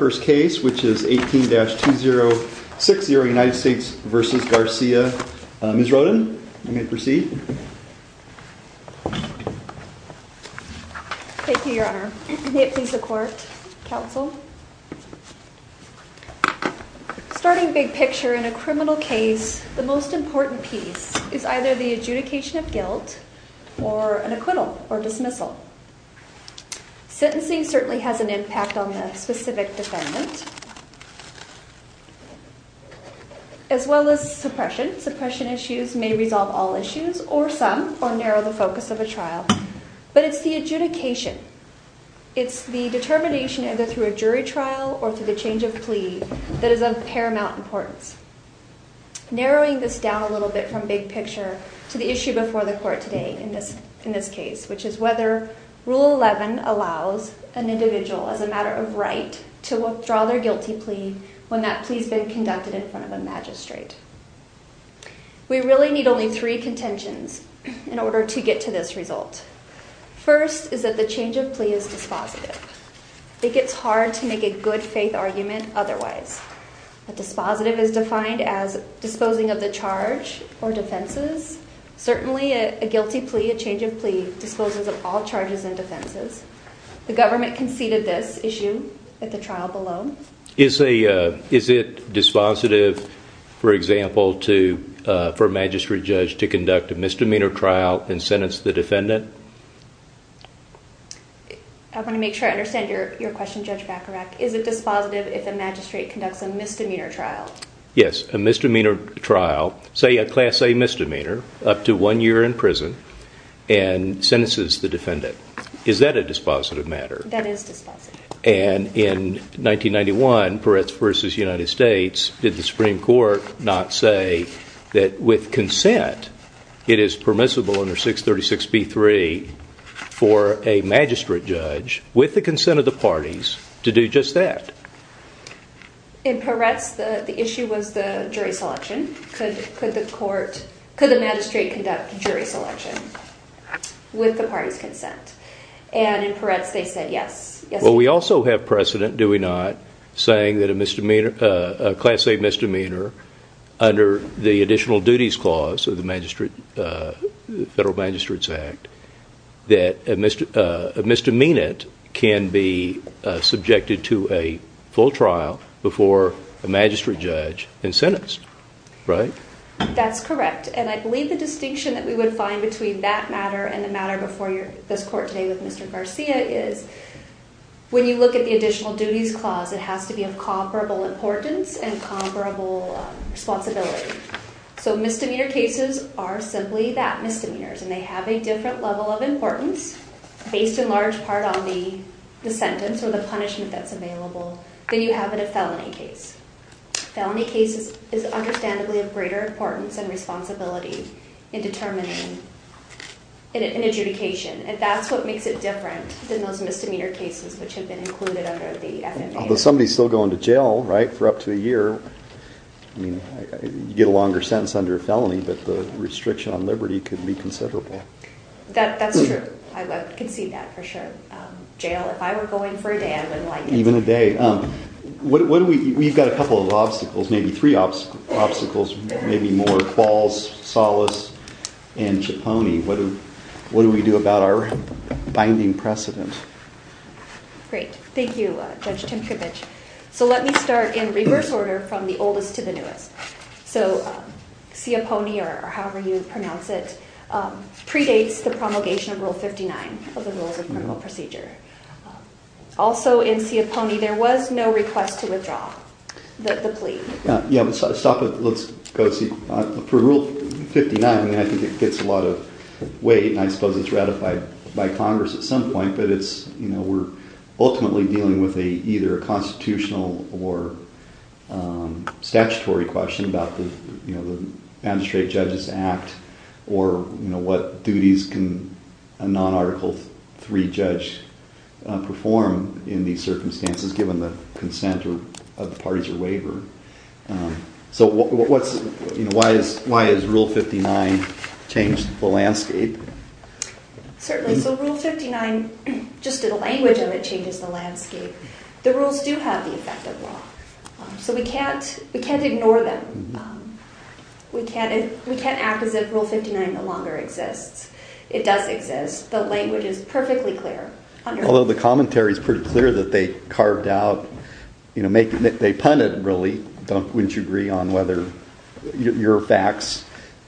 first case which is 18-2060 United States v. Garcia. Ms. Roden, you may proceed. Thank you, your honor. May it please the court, counsel. Starting big picture in a criminal case, the most important piece is either the adjudication of guilt or an acquittal or dismissal. Sentencing certainly has an impact on the specific defendant as well as suppression. Suppression issues may resolve all issues or some or narrow the focus of a trial. But it's the adjudication, it's the determination either through a jury trial or through the change of plea that is of paramount importance. Narrowing this down a little bit from the big picture to the issue before the court today in this case, which is whether Rule 11 allows an individual as a matter of right to withdraw their guilty plea when that plea has been conducted in front of a magistrate. We really need only three contentions in order to get to this result. First is that the change of plea is dispositive. It gets hard to make a good faith argument otherwise. Dispositive is defined as disposing of the charge or defenses. Certainly a guilty plea, a change of plea disposes of all charges and defenses. The government conceded this issue at the trial below. Is it dispositive, for example, for a magistrate judge to conduct a misdemeanor trial and sentence the defendant? I want to make sure I understand your question, is it dispositive if a magistrate conducts a misdemeanor trial? Yes, a misdemeanor trial, say a class A misdemeanor, up to one year in prison, and sentences the defendant. Is that a dispositive matter? That is dispositive. And in 1991, Peretz v. United States, did the Supreme Court not say that with consent it is permissible under 636B3 for a magistrate judge, with the party's consent, to do just that? In Peretz, the issue was the jury selection. Could the magistrate conduct jury selection with the party's consent? In Peretz, they said yes. We also have precedent, do we not, saying that a class A misdemeanor, under the additional duties clause of the to a full trial before a magistrate judge and sentenced, right? That's correct. And I believe the distinction that we would find between that matter and the matter before this court today with Mr. Garcia is, when you look at the additional duties clause, it has to be of comparable importance and comparable responsibility. So misdemeanor cases are simply that, misdemeanors, and they have a different level of importance, based in large part on the sentence or the punishment that's available, than you have in a felony case. Felony cases is understandably of greater importance and responsibility in determining an adjudication, and that's what makes it different than those misdemeanor cases which have been included under the FMA. Although somebody's still going to jail, right, for up to a year, I mean, you get a longer sentence under a felony, but the restriction on liberty could be considerable. That's true, I would concede that for sure. Jail, if I were going for a day, I wouldn't like it. Even a day. What do we, we've got a couple of obstacles, maybe three obstacles, maybe more. Falls, solace, and Ciappone. What do we do about our binding precedent? Great, thank you Judge Tinkovich. So let me start in reverse order from the oldest to the newest. So Ciappone, or however you pronounce it, predates the promulgation of Rule 59 of the Rules of Criminal Procedure. Also in Ciappone, there was no request to withdraw the plea. Yeah, let's stop it, let's go see. For Rule 59, I mean, I think it gets a lot of weight, and I suppose it's ratified by Congress at some point, but it's, you know, we're ultimately dealing with either a constitutional or statutory question about the, you know, the non-Article III judge perform in these circumstances given the consent of the parties or waiver. So what's, you know, why has Rule 59 changed the landscape? Certainly, so Rule 59, just to the language of it, changes the landscape. The rules do have the effect of law. So we can't, we can't ignore them. We can't, we can't act as if Rule 59 no longer exists. It does exist. The language is perfectly clear. Although the commentary is pretty clear that they carved out, you know, they pun it really, don't, wouldn't you agree on whether your facts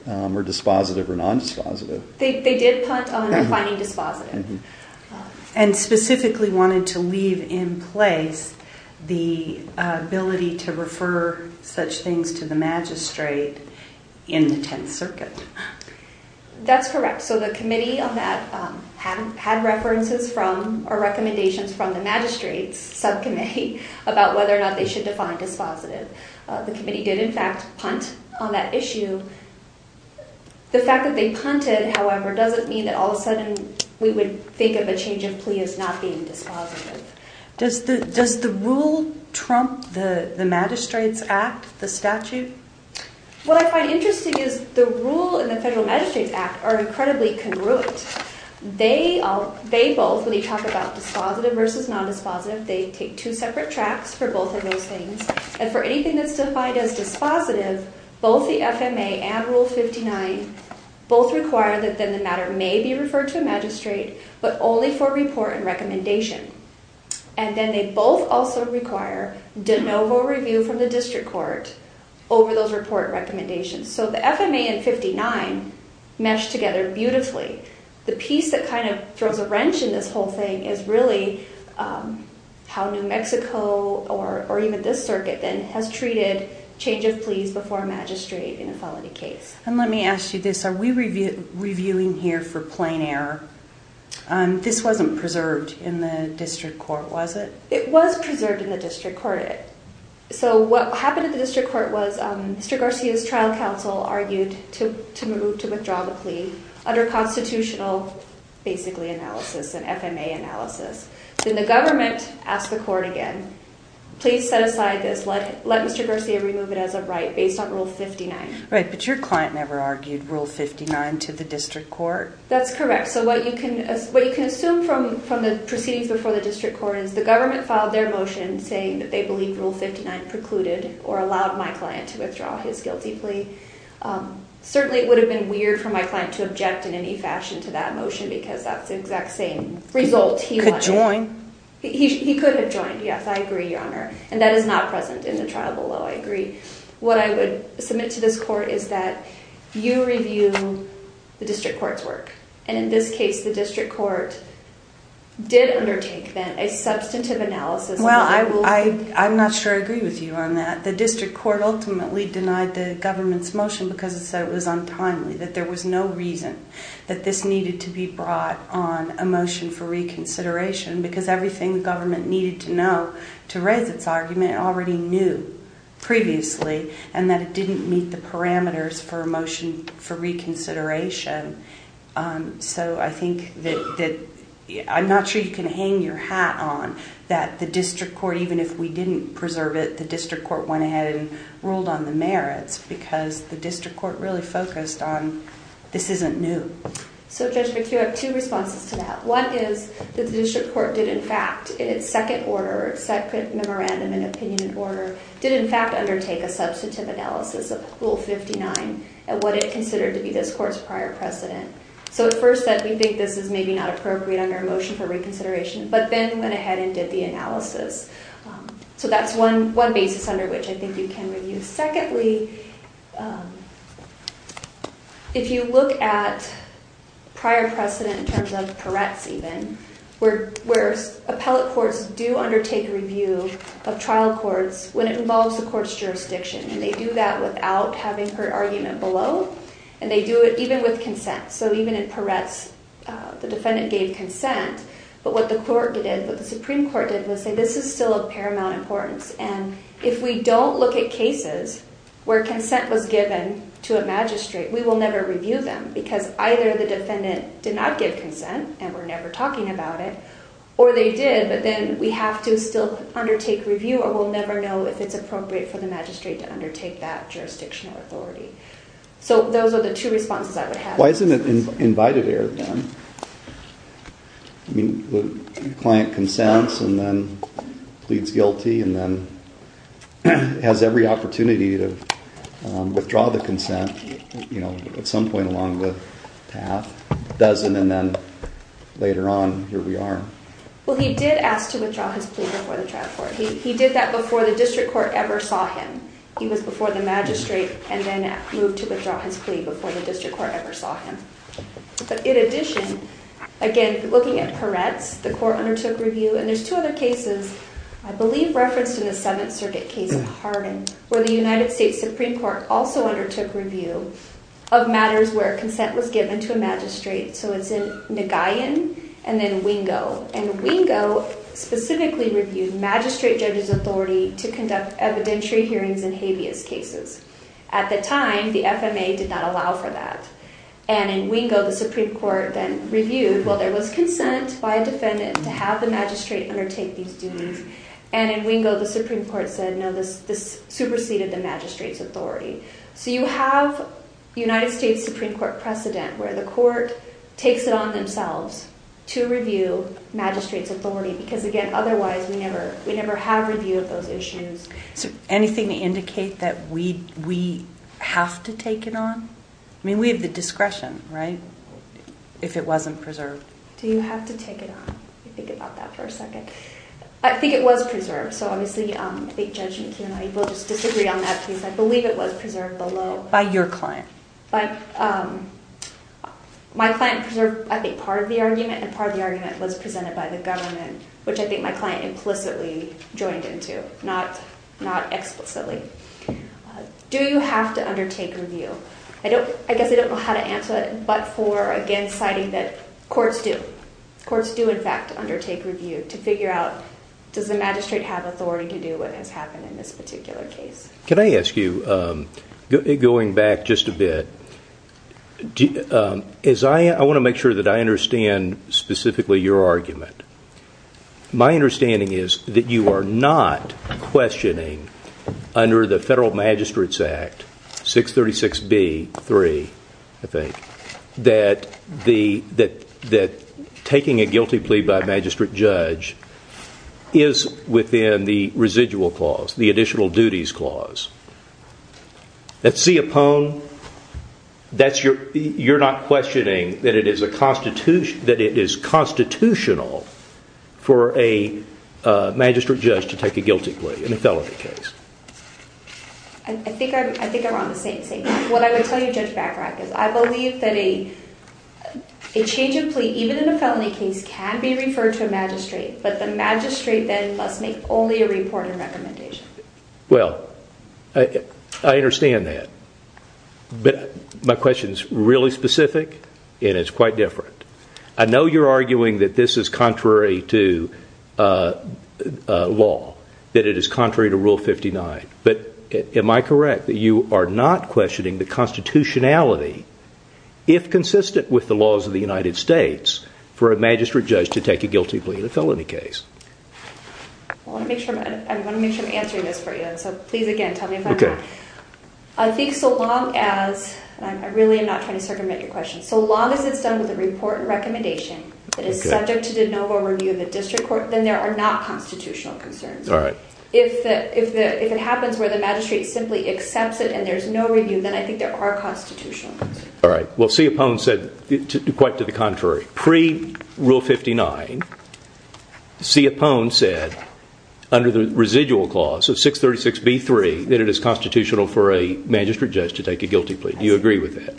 are dispositive or non-dispositive? They did punt on defining dispositive. And specifically wanted to leave in place the ability to refer such things to the magistrate in the Tenth Circuit. That's correct. So the committee on that had references from, or recommendations from the magistrate's subcommittee about whether or not they should define dispositive. The committee did in fact punt on that issue. The fact that they punted, however, doesn't mean that all of a sudden we would think of a change of plea as not being What I find interesting is the rule and the Federal Magistrates Act are incredibly congruent. They, they both, when you talk about dispositive versus non-dispositive, they take two separate tracks for both of those things. And for anything that's defined as dispositive, both the FMA and Rule 59 both require that then the matter may be referred to a magistrate, but only for report and recommendation. And then they both also require de novo review from the district court over those recommendations. So the FMA and 59 mesh together beautifully. The piece that kind of throws a wrench in this whole thing is really how New Mexico, or even this circuit then, has treated change of pleas before a magistrate in a felony case. And let me ask you this, are we reviewing here for plain error? This wasn't preserved in the district court, was it? It was preserved in the district court. So what happened at the district court was Mr. Garcia's trial counsel argued to, to move, to withdraw the plea under constitutional, basically analysis, an FMA analysis. Then the government asked the court again, please set aside this, let, let Mr. Garcia remove it as a right based on Rule 59. Right, but your client never argued Rule 59 to the district court. That's correct. So what you can, what you can assume from, from the proceedings before the district court is the government filed their motion saying that they believe Rule 59 precluded or allowed my client to withdraw his guilty plea. Certainly it would have been weird for my client to object in any fashion to that motion because that's the exact same result. He could join. He could have joined. Yes, I agree, Your Honor. And that is not present in the trial below. I agree. What I would submit to this court is that you review the district court's work. And in this case, the district court did undertake then a substantive analysis. Well, I will, I, I'm not sure I agree with you on that. The district court ultimately denied the government's motion because it said it was untimely, that there was no reason that this needed to be brought on a motion for reconsideration because everything the government needed to know to raise its argument already knew previously and that it can hang your hat on, that the district court, even if we didn't preserve it, the district court went ahead and ruled on the merits because the district court really focused on this isn't new. So Judge McHugh, I have two responses to that. One is that the district court did in fact, in its second order, second memorandum and opinion in order, did in fact undertake a substantive analysis of Rule 59 and what it considered to be this court's prior precedent. So at first that we think this is maybe not appropriate under a motion for reconsideration, but then went ahead and did the analysis. So that's one, one basis under which I think you can review. Secondly, if you look at prior precedent in terms of Peretz even, where, where appellate courts do undertake review of trial courts when it involves the court's jurisdiction, and they do that without having her argument below and they do it even with consent. So even in Peretz, the defendant gave consent, but what the court did, what the Supreme Court did was say, this is still of paramount importance. And if we don't look at cases where consent was given to a magistrate, we will never review them because either the defendant did not give consent and we're never talking about it or they did, but then we have to still undertake review or we'll never know if it's appropriate for the magistrate to undertake that jurisdictional authority. So those are the two responses I would have. Why isn't it invited here then? I mean, the client consents and then pleads guilty and then has every opportunity to withdraw the consent, you know, at some point along the path, doesn't, and then later on here we are. Well, he did ask to withdraw his plea before the trial court. He did that before the and then moved to withdraw his plea before the district court ever saw him. But in addition, again, looking at Peretz, the court undertook review and there's two other cases, I believe referenced in the Seventh Circuit case of Hardin, where the United States Supreme Court also undertook review of matters where consent was given to a magistrate. So it's in Nagayan and then Wingo. And Wingo specifically reviewed magistrate judge's authority to conduct evidentiary hearings in habeas cases. At the time, the FMA did not allow for that. And in Wingo, the Supreme Court then reviewed, well, there was consent by a defendant to have the magistrate undertake these duties. And in Wingo, the Supreme Court said, no, this superseded the magistrate's authority. So you have United States Supreme Court precedent where the court takes it on themselves to review magistrate's authority, because again, otherwise we never have review of those issues. So anything to indicate that we have to take it on? I mean, we have the discretion, right? If it wasn't preserved. Do you have to take it on? Let me think about that for a second. I think it was preserved. So obviously, I think Judge McKeon, I will just disagree on that, please. I believe it was preserved below. By your client. My client preserved, I think, part of the argument and part of the argument was presented by the not explicitly. Do you have to undertake review? I guess I don't know how to answer it, but for again, citing that courts do. Courts do, in fact, undertake review to figure out, does the magistrate have authority to do what has happened in this particular case? Can I ask you, going back just a bit, I want to make sure that I understand specifically your argument. My understanding is that you are not questioning under the Federal Magistrates Act, 636B.3, I think, that taking a guilty plea by a magistrate judge is within the residual clause, the additional duties clause. At CIPONE, you're not questioning that it is constitutional for a magistrate judge to take a guilty plea in a felony case. I think I'm on the same page. What I would tell you, Judge Bachrach, is I believe that a change of plea, even in a felony case, can be referred to a magistrate, but the magistrate then must make only a report of recommendation. Well, I understand that, but my question is really specific and it's quite different. I know you're arguing that this is contrary to law, that it is contrary to Rule 59, but am I correct that you are not questioning the constitutionality, if consistent with the laws of the United States, for a magistrate judge to take a guilty plea in a felony case? I want to make sure I'm answering this for you, so please, again, tell me if I'm wrong. I think so long as, and I really am not trying to circumvent your question, so long as it's done with a report and recommendation that is subject to de novo review of the district court, then there are not constitutional concerns. All right. If it happens where the magistrate simply accepts it and there's no review, then I think there are constitutional concerns. All right. Well, CIPONE said quite to the contrary. Pre-Rule 59, CIPONE said, under the residual clause of 636B3, that it is constitutional for a magistrate judge to take a guilty plea. Do you agree with that?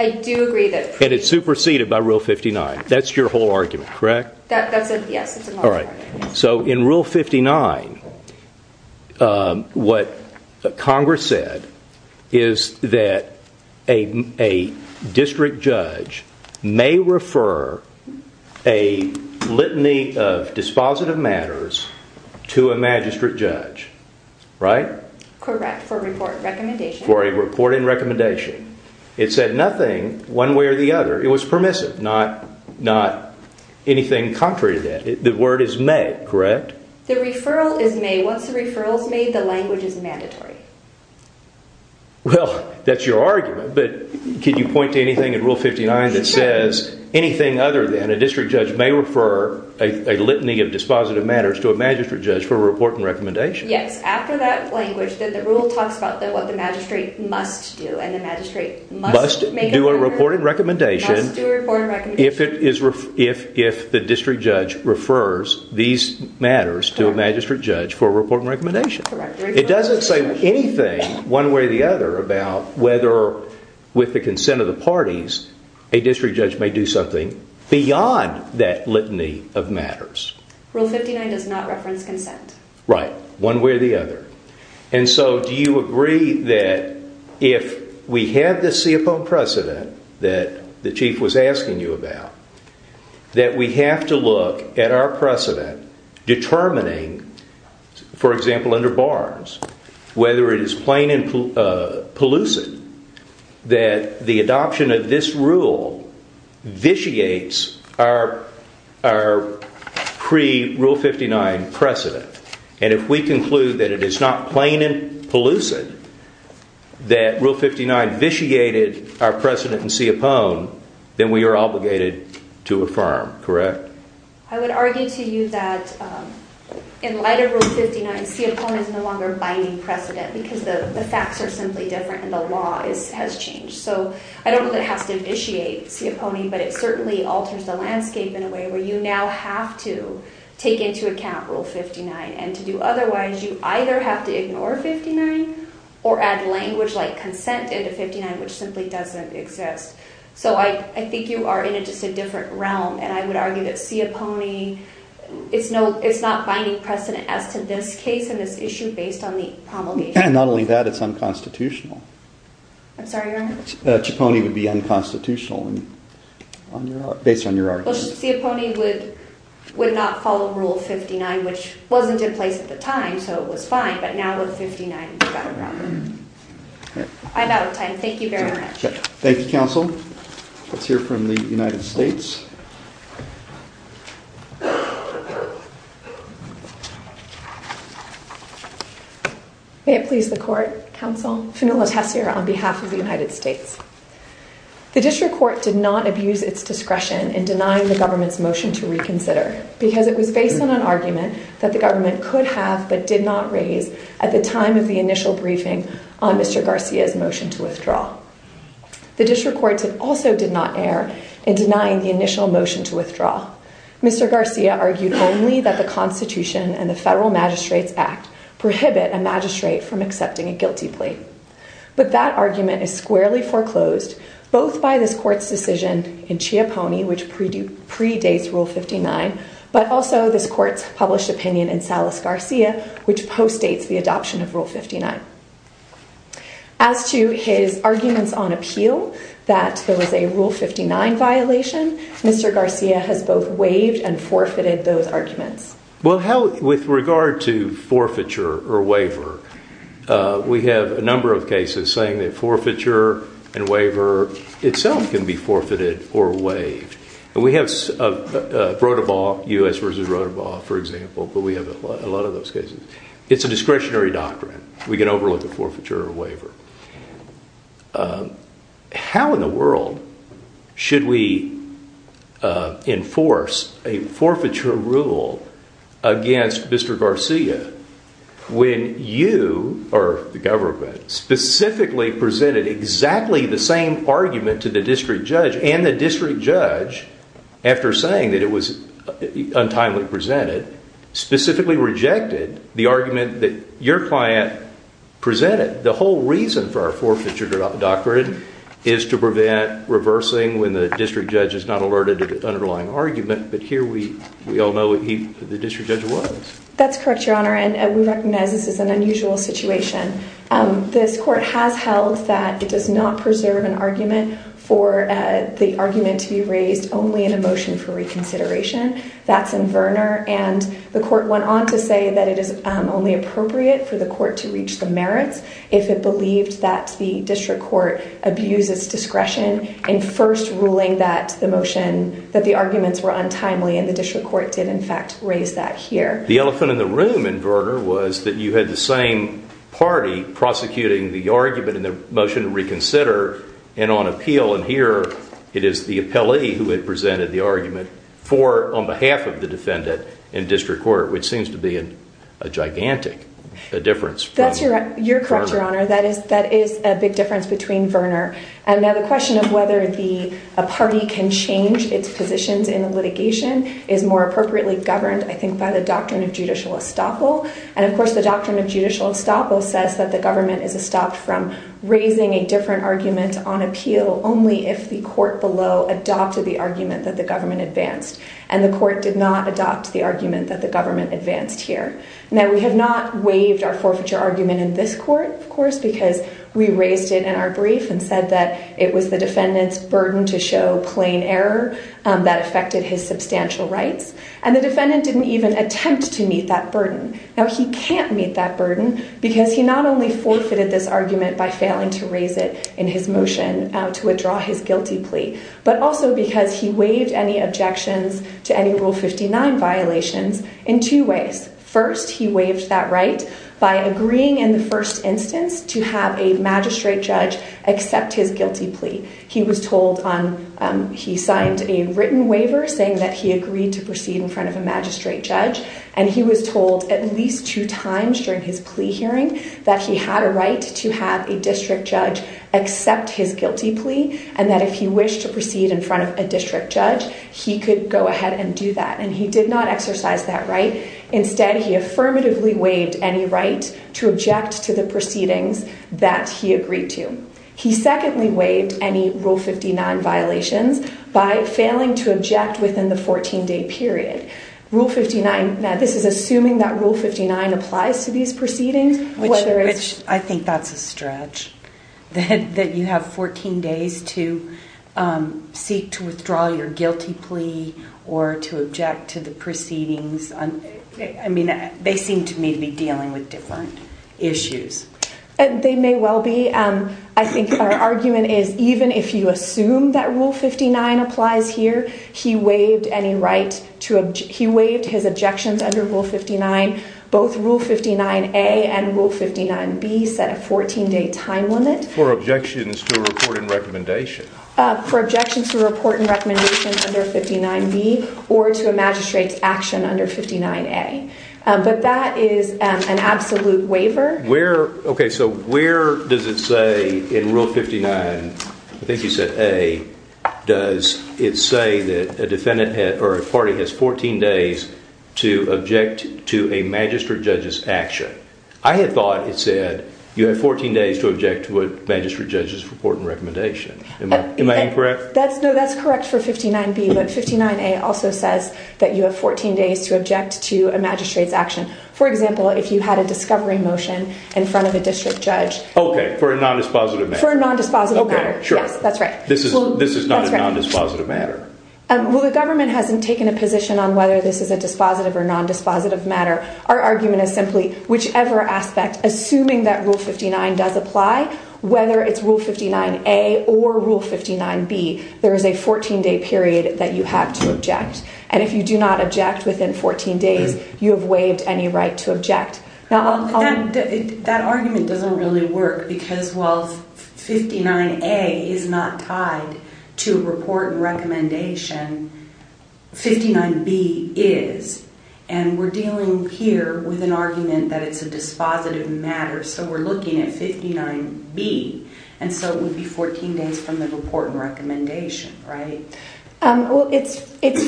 I do agree that- And it's superseded by Rule 59. That's your whole argument, correct? That's it, yes. All right. So in Rule 59, what Congress said is that a district judge may refer a litany of dispositive matters to a magistrate judge, right? Correct, for a report and recommendation. For a report and recommendation. It said nothing one way or the other. It was permissive, not anything contrary to that. The word is may, correct? The referral is may. Once the referral's made, the language is mandatory. Well, that's your argument, but can you point to anything in Rule 59 that says anything other than a district judge may refer a litany of dispositive matters to a magistrate judge for a report and recommendation? Yes, after that language, then the rule talks about what the magistrate must do, and the magistrate must make a report and recommendation- Must do a report and recommendation. Must do a report and recommendation. If the district judge refers these matters to a magistrate judge for a report and recommendation. Correct. It doesn't say anything one way or the other about whether, with the consent of the parties, a district judge may do something beyond that litany of matters. Rule 59 does not reference consent. Right, one way or the other. And so, do you agree that if we have this CFO precedent that the chief was asking you about, that we have to look at our precedent determining, for example, under Barnes, whether it is plain and pelucid that the adoption of this rule vitiates our pre-Rule 59 precedent? And if we conclude that it is not plain and pelucid that Rule 59 vitiated our precedent in Siopone, then we are obligated to affirm, correct? I would argue to you that in light of Rule 59, Siopone is no longer binding precedent, because the facts are simply different and the law has changed. So, I don't know if it has to vitiate Siopone, but it certainly alters the landscape in a way where you now have to take into account Rule 59. And to do otherwise, you either have to ignore 59 or add language like consent into 59, which simply doesn't exist. So, I think you are in just a different realm. And I would argue that Siopone, it's not binding precedent as to this case and this issue based on the promulgation. Not only that, it's unconstitutional. I'm sorry, your honor? Siopone would be unconstitutional based on your argument. Siopone would not follow Rule 59, which wasn't in place at the time. So, it was fine. But now with 59, it's gotten wrong. I'm out of time. Thank you very much. Thank you, counsel. Let's hear from the United States. May it please the court, counsel. Fenella Tessier on behalf of the United States. The district court did not abuse its discretion in denying the government's motion to reconsider because it was based on an argument that the government could have but did not raise at the time of the initial briefing on Mr. Garcia's motion to withdraw. The district court also did not err in denying the initial motion to withdraw. Mr. Garcia argued only that the Constitution and the Federal Magistrates Act prohibit a magistrate from accepting a guilty plea. But that argument is squarely foreclosed both by this court's decision in Siopone, which predates Rule 59, but also this court's published opinion in Salas-Garcia, which postdates the adoption of Rule 59. As to his arguments on appeal that there was a Rule 59 violation, Mr. Garcia has both waived and forfeited those arguments. Well, with regard to forfeiture or waiver, we have a number of cases saying that forfeiture and waiver itself can be forfeited or waived. We have U.S. v. Rotabal, for example, but we have a lot of those cases. It's a discretionary doctrine. So, how in the world should we enforce a forfeiture rule against Mr. Garcia when you or the government specifically presented exactly the same argument to the district judge and the district judge, after saying that it was untimely presented, specifically rejected the argument that your client presented? The whole reason for our forfeiture doctrine is to prevent reversing when the district judge is not alerted to the underlying argument, but here we all know the district judge was. That's correct, Your Honor, and we recognize this is an unusual situation. This court has held that it does not preserve an argument for the argument to be raised only in a motion for reconsideration. That's in Verner, and the court went on to say that it is only appropriate for the court to reach the merits if it believed that the district court abuses discretion in first ruling that the arguments were untimely, and the district court did, in fact, raise that here. The elephant in the room in Verner was that you had the same party prosecuting the argument in the motion to reconsider and on appeal, and here it is the appellee who had presented the argument for, on behalf of the defendant, in district court, which seems to be a gigantic difference. That's correct, Your Honor. That is a big difference between Verner, and now the question of whether a party can change its positions in the litigation is more appropriately governed, I think, by the doctrine of judicial estoppel, and of course the doctrine of judicial estoppel says that the government is estopped from raising a different argument on appeal only if the court below adopted the argument that the government advanced, and the court did not adopt the argument that the government advanced here. Now, we have not waived our forfeiture argument in this court, of course, because we raised it in our brief and said that it was the defendant's burden to show plain error that affected his substantial rights, and the defendant didn't even attempt to meet that burden. Now, he can't meet that burden because he not only forfeited this argument by he waived any objections to any Rule 59 violations in two ways. First, he waived that right by agreeing in the first instance to have a magistrate judge accept his guilty plea. He was told on, he signed a written waiver saying that he agreed to proceed in front of a magistrate judge, and he was told at least two times during his plea hearing that he had a right to have a district judge accept his guilty plea, and that if he wished to proceed in front of a district judge, he could go ahead and do that, and he did not exercise that right. Instead, he affirmatively waived any right to object to the proceedings that he agreed to. He secondly waived any Rule 59 violations by failing to object within the 14-day period. Rule 59, now this is assuming that Rule 59, that you have 14 days to seek to withdraw your guilty plea or to object to the proceedings. I mean, they seem to me to be dealing with different issues. They may well be. I think our argument is even if you assume that Rule 59 applies here, he waived any right to, he waived his objections under Rule 59, both Rule 59A and Rule 59B set a 14-day time limit. For objections to a report and recommendation. For objections to a report and recommendation under 59B or to a magistrate's action under 59A, but that is an absolute waiver. Where, okay, so where does it say in Rule 59, I think you said A, does it say that a defendant or a party has 14 days to object to a magistrate judge's action? I had thought it said you have 14 days to object to a magistrate judge's report and recommendation. Am I incorrect? That's no, that's correct for 59B, but 59A also says that you have 14 days to object to a magistrate's action. For example, if you had a discovery motion in front of a district judge. Okay, for a non-dispositive matter. For a non-dispositive matter. Okay, sure. Yes, that's right. This is not a non-dispositive matter. Well, the government hasn't taken a position on whether this is a dispositive or non-dispositive matter. Our argument is simply whichever aspect, assuming that Rule 59 does apply, whether it's Rule 59A or Rule 59B, there is a 14 day period that you have to object. And if you do not object within 14 days, you have waived any right to object. Now, that argument doesn't really work because while 59A is not tied to report and recommendation, 59B is. And we're dealing here with an argument that it's a dispositive matter, so we're looking at 59B. And so it would be 14 days from the report and recommendation, right? Well, it's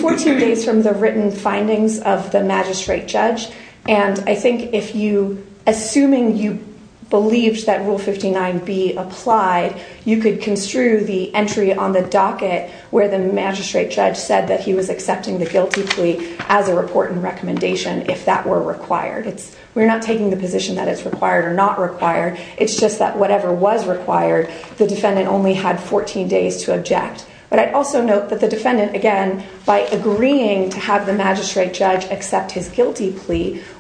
14 days from the written findings of the magistrate judge. And I think if you, assuming you believed that Rule 59B applied, you could construe the entry on the docket where the magistrate judge said that he was accepting the guilty plea as a report and recommendation if that were required. We're not taking the position that it's required or not required. It's just that whatever was required, the defendant only had 14 days to object. But I'd also note that the defendant, again, by agreeing to have the magistrate judge accept his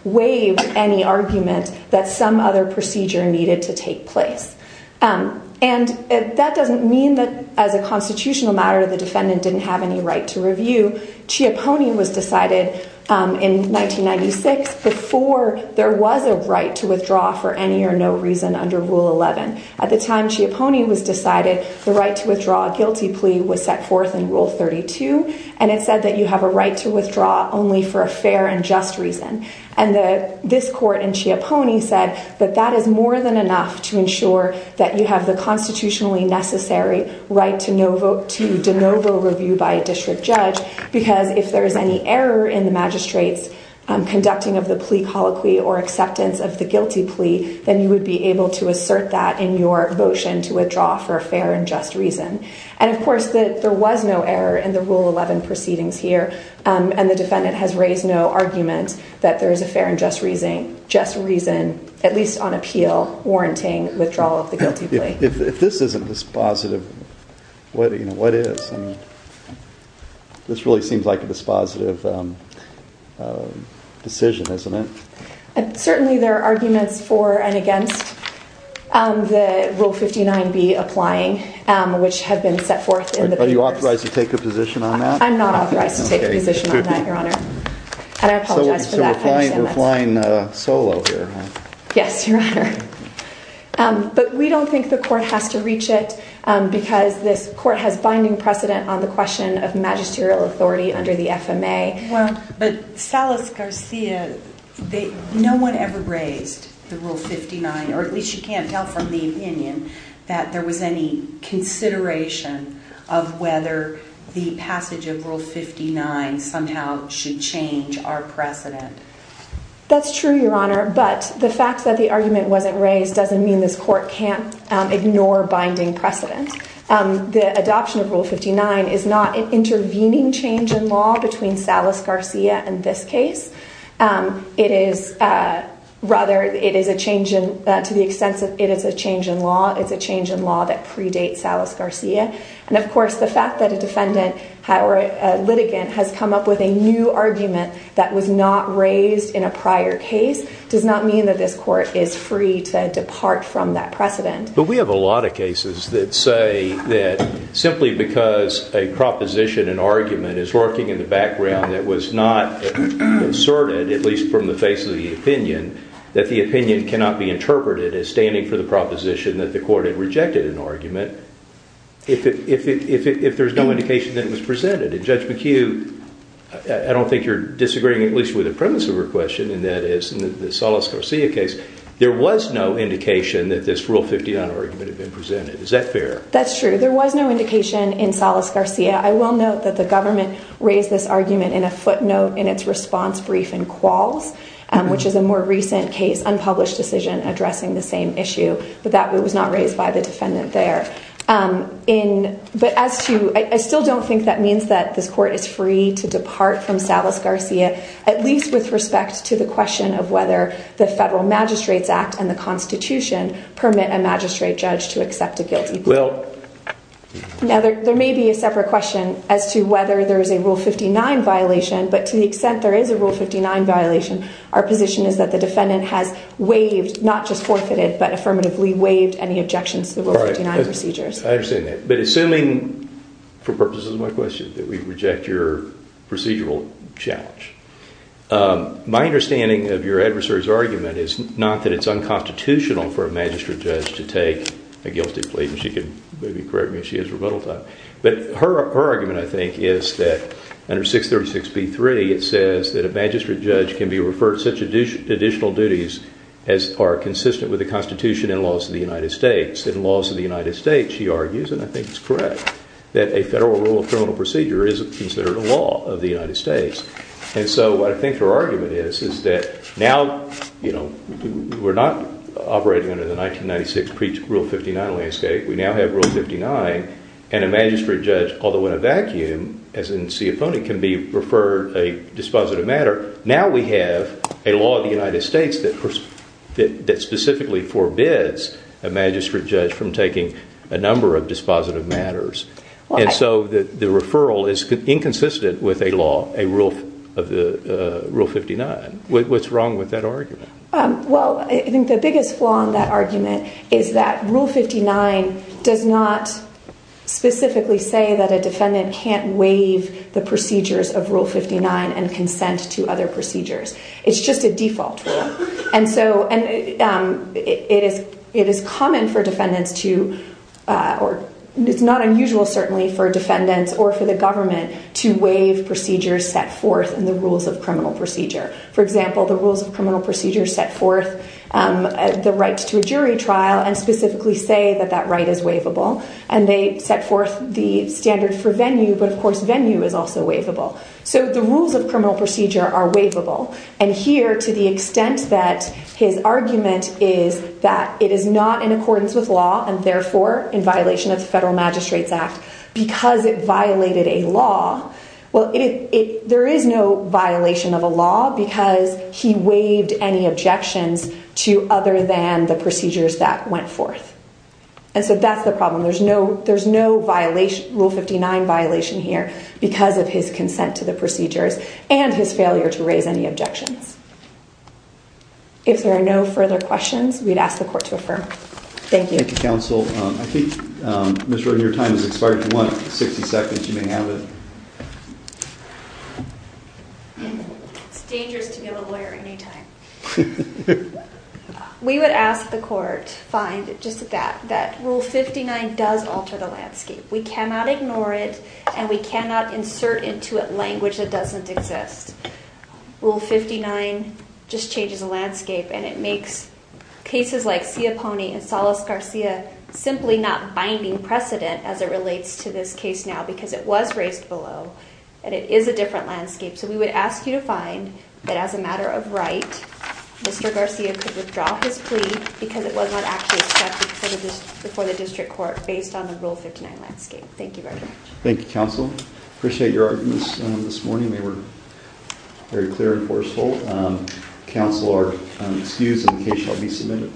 waived any argument that some other procedure needed to take place. And that doesn't mean that as a constitutional matter, the defendant didn't have any right to review. Chiapone was decided in 1996 before there was a right to withdraw for any or no reason under Rule 11. At the time Chiapone was decided, the right to withdraw a guilty plea was set forth in Rule 32. And it said that you have a right to withdraw only for a fair and just reason. And this court in Chiapone said that that is more than enough to ensure that you have the constitutionally necessary right to de novo review by a district judge. Because if there is any error in the magistrate's conducting of the plea colloquy or acceptance of the guilty plea, then you would be able to assert that in your motion to withdraw for a fair and just reason. And of course, there was no error in the Rule 11 proceedings here. And the defendant has raised no argument that there is a fair and just reason, just reason, at least on appeal, warranting withdrawal of the guilty plea. If this isn't dispositive, what is? This really seems like a dispositive decision, isn't it? Certainly there are arguments for and against the Rule 59B applying, which have been set forth in the papers. Are you authorized to take a position on that? I'm not authorized to take a position. We're flying solo here. Yes, Your Honor. But we don't think the court has to reach it because this court has binding precedent on the question of magisterial authority under the FMA. Well, but Salas Garcia, no one ever raised the Rule 59, or at least you can't tell from the opinion that there was any consideration of whether the passage of Rule 59 somehow should change our precedent. That's true, Your Honor. But the fact that the argument wasn't raised doesn't mean this court can't ignore binding precedent. The adoption of Rule 59 is not an intervening change in law that predates Salas Garcia. And of course, the fact that a defendant or a litigant has come up with a new argument that was not raised in a prior case does not mean that this court is free to depart from that precedent. But we have a lot of cases that say that simply because a proposition, an argument, is lurking in the background that was not asserted, at least from the face of the argument, if there's no indication that it was presented. And Judge McHugh, I don't think you're disagreeing at least with the premise of her question, and that is in the Salas Garcia case, there was no indication that this Rule 59 argument had been presented. Is that fair? That's true. There was no indication in Salas Garcia. I will note that the government raised this argument in a footnote in its response brief in Qualls, which is a more recent case, addressing the same issue, but that was not raised by the defendant there. I still don't think that means that this court is free to depart from Salas Garcia, at least with respect to the question of whether the Federal Magistrates Act and the Constitution permit a magistrate judge to accept a guilty plea. Now, there may be a separate question as to whether there is a Rule 59 violation, but to the extent there is a Rule 59 violation, our position is that the defendant has waived, not just forfeited, but affirmatively waived any objections to the Rule 59 procedures. I understand that. But assuming, for purposes of my question, that we reject your procedural challenge, my understanding of your adversary's argument is not that it's unconstitutional for a magistrate judge to take a guilty plea, and she could maybe correct me if she has rebuttal time, but her argument, I think, is that under 636B3, it says that a magistrate judge can be referred to such additional duties as are consistent with the Constitution and laws of the United States. In laws of the United States, she argues, and I think it's correct, that a Federal Rule of Criminal Procedure is considered a law of the United States. And so I think her argument is that now, you know, we're not operating under the 1996 Rule 59 landscape. We now have Rule 59, and a magistrate judge, although in a vacuum, as in Sioponi, can be referred a dispositive matter, now we have a law of the United States that specifically forbids a magistrate judge from taking a number of dispositive matters. And so the referral is inconsistent with a law, a rule of the Rule 59. What's wrong with that argument? Well, I think the biggest flaw in that argument is that Rule 59 does not specifically say that a defendant can't waive the procedures of Rule 59 and consent to other procedures. It's just a default. And so it is common for defendants to, or it's not unusual, certainly, for defendants or for the government to waive procedures set forth in the Rules of Criminal Procedure. For example, the Rules of Criminal Procedure set forth the to a jury trial and specifically say that that right is waivable. And they set forth the standard for venue, but of course, venue is also waivable. So the Rules of Criminal Procedure are waivable. And here, to the extent that his argument is that it is not in accordance with law and therefore in violation of the Federal Magistrates Act because it violated a law, well, there is no to other than the procedures that went forth. And so that's the problem. There's no violation, Rule 59 violation here because of his consent to the procedures and his failure to raise any objections. If there are no further questions, we'd ask the court to affirm. Thank you. Thank you, counsel. I think, Ms. Rudin, your time has expired to 160 seconds. You may have it. It's dangerous to give a lawyer any time. We would ask the court, fine, just that, that Rule 59 does alter the landscape. We cannot ignore it, and we cannot insert into it language that doesn't exist. Rule 59 just changes the landscape, and it makes cases like Sioponi and Salas Garcia simply not and it is a different landscape. So we would ask you to find that as a matter of right, Mr. Garcia could withdraw his plea because it was not actually accepted before the district court based on the Rule 59 landscape. Thank you very much. Thank you, counsel. Appreciate your arguments this morning. They were very clear and forceful. Counsel, our excuse and the case shall be submitted.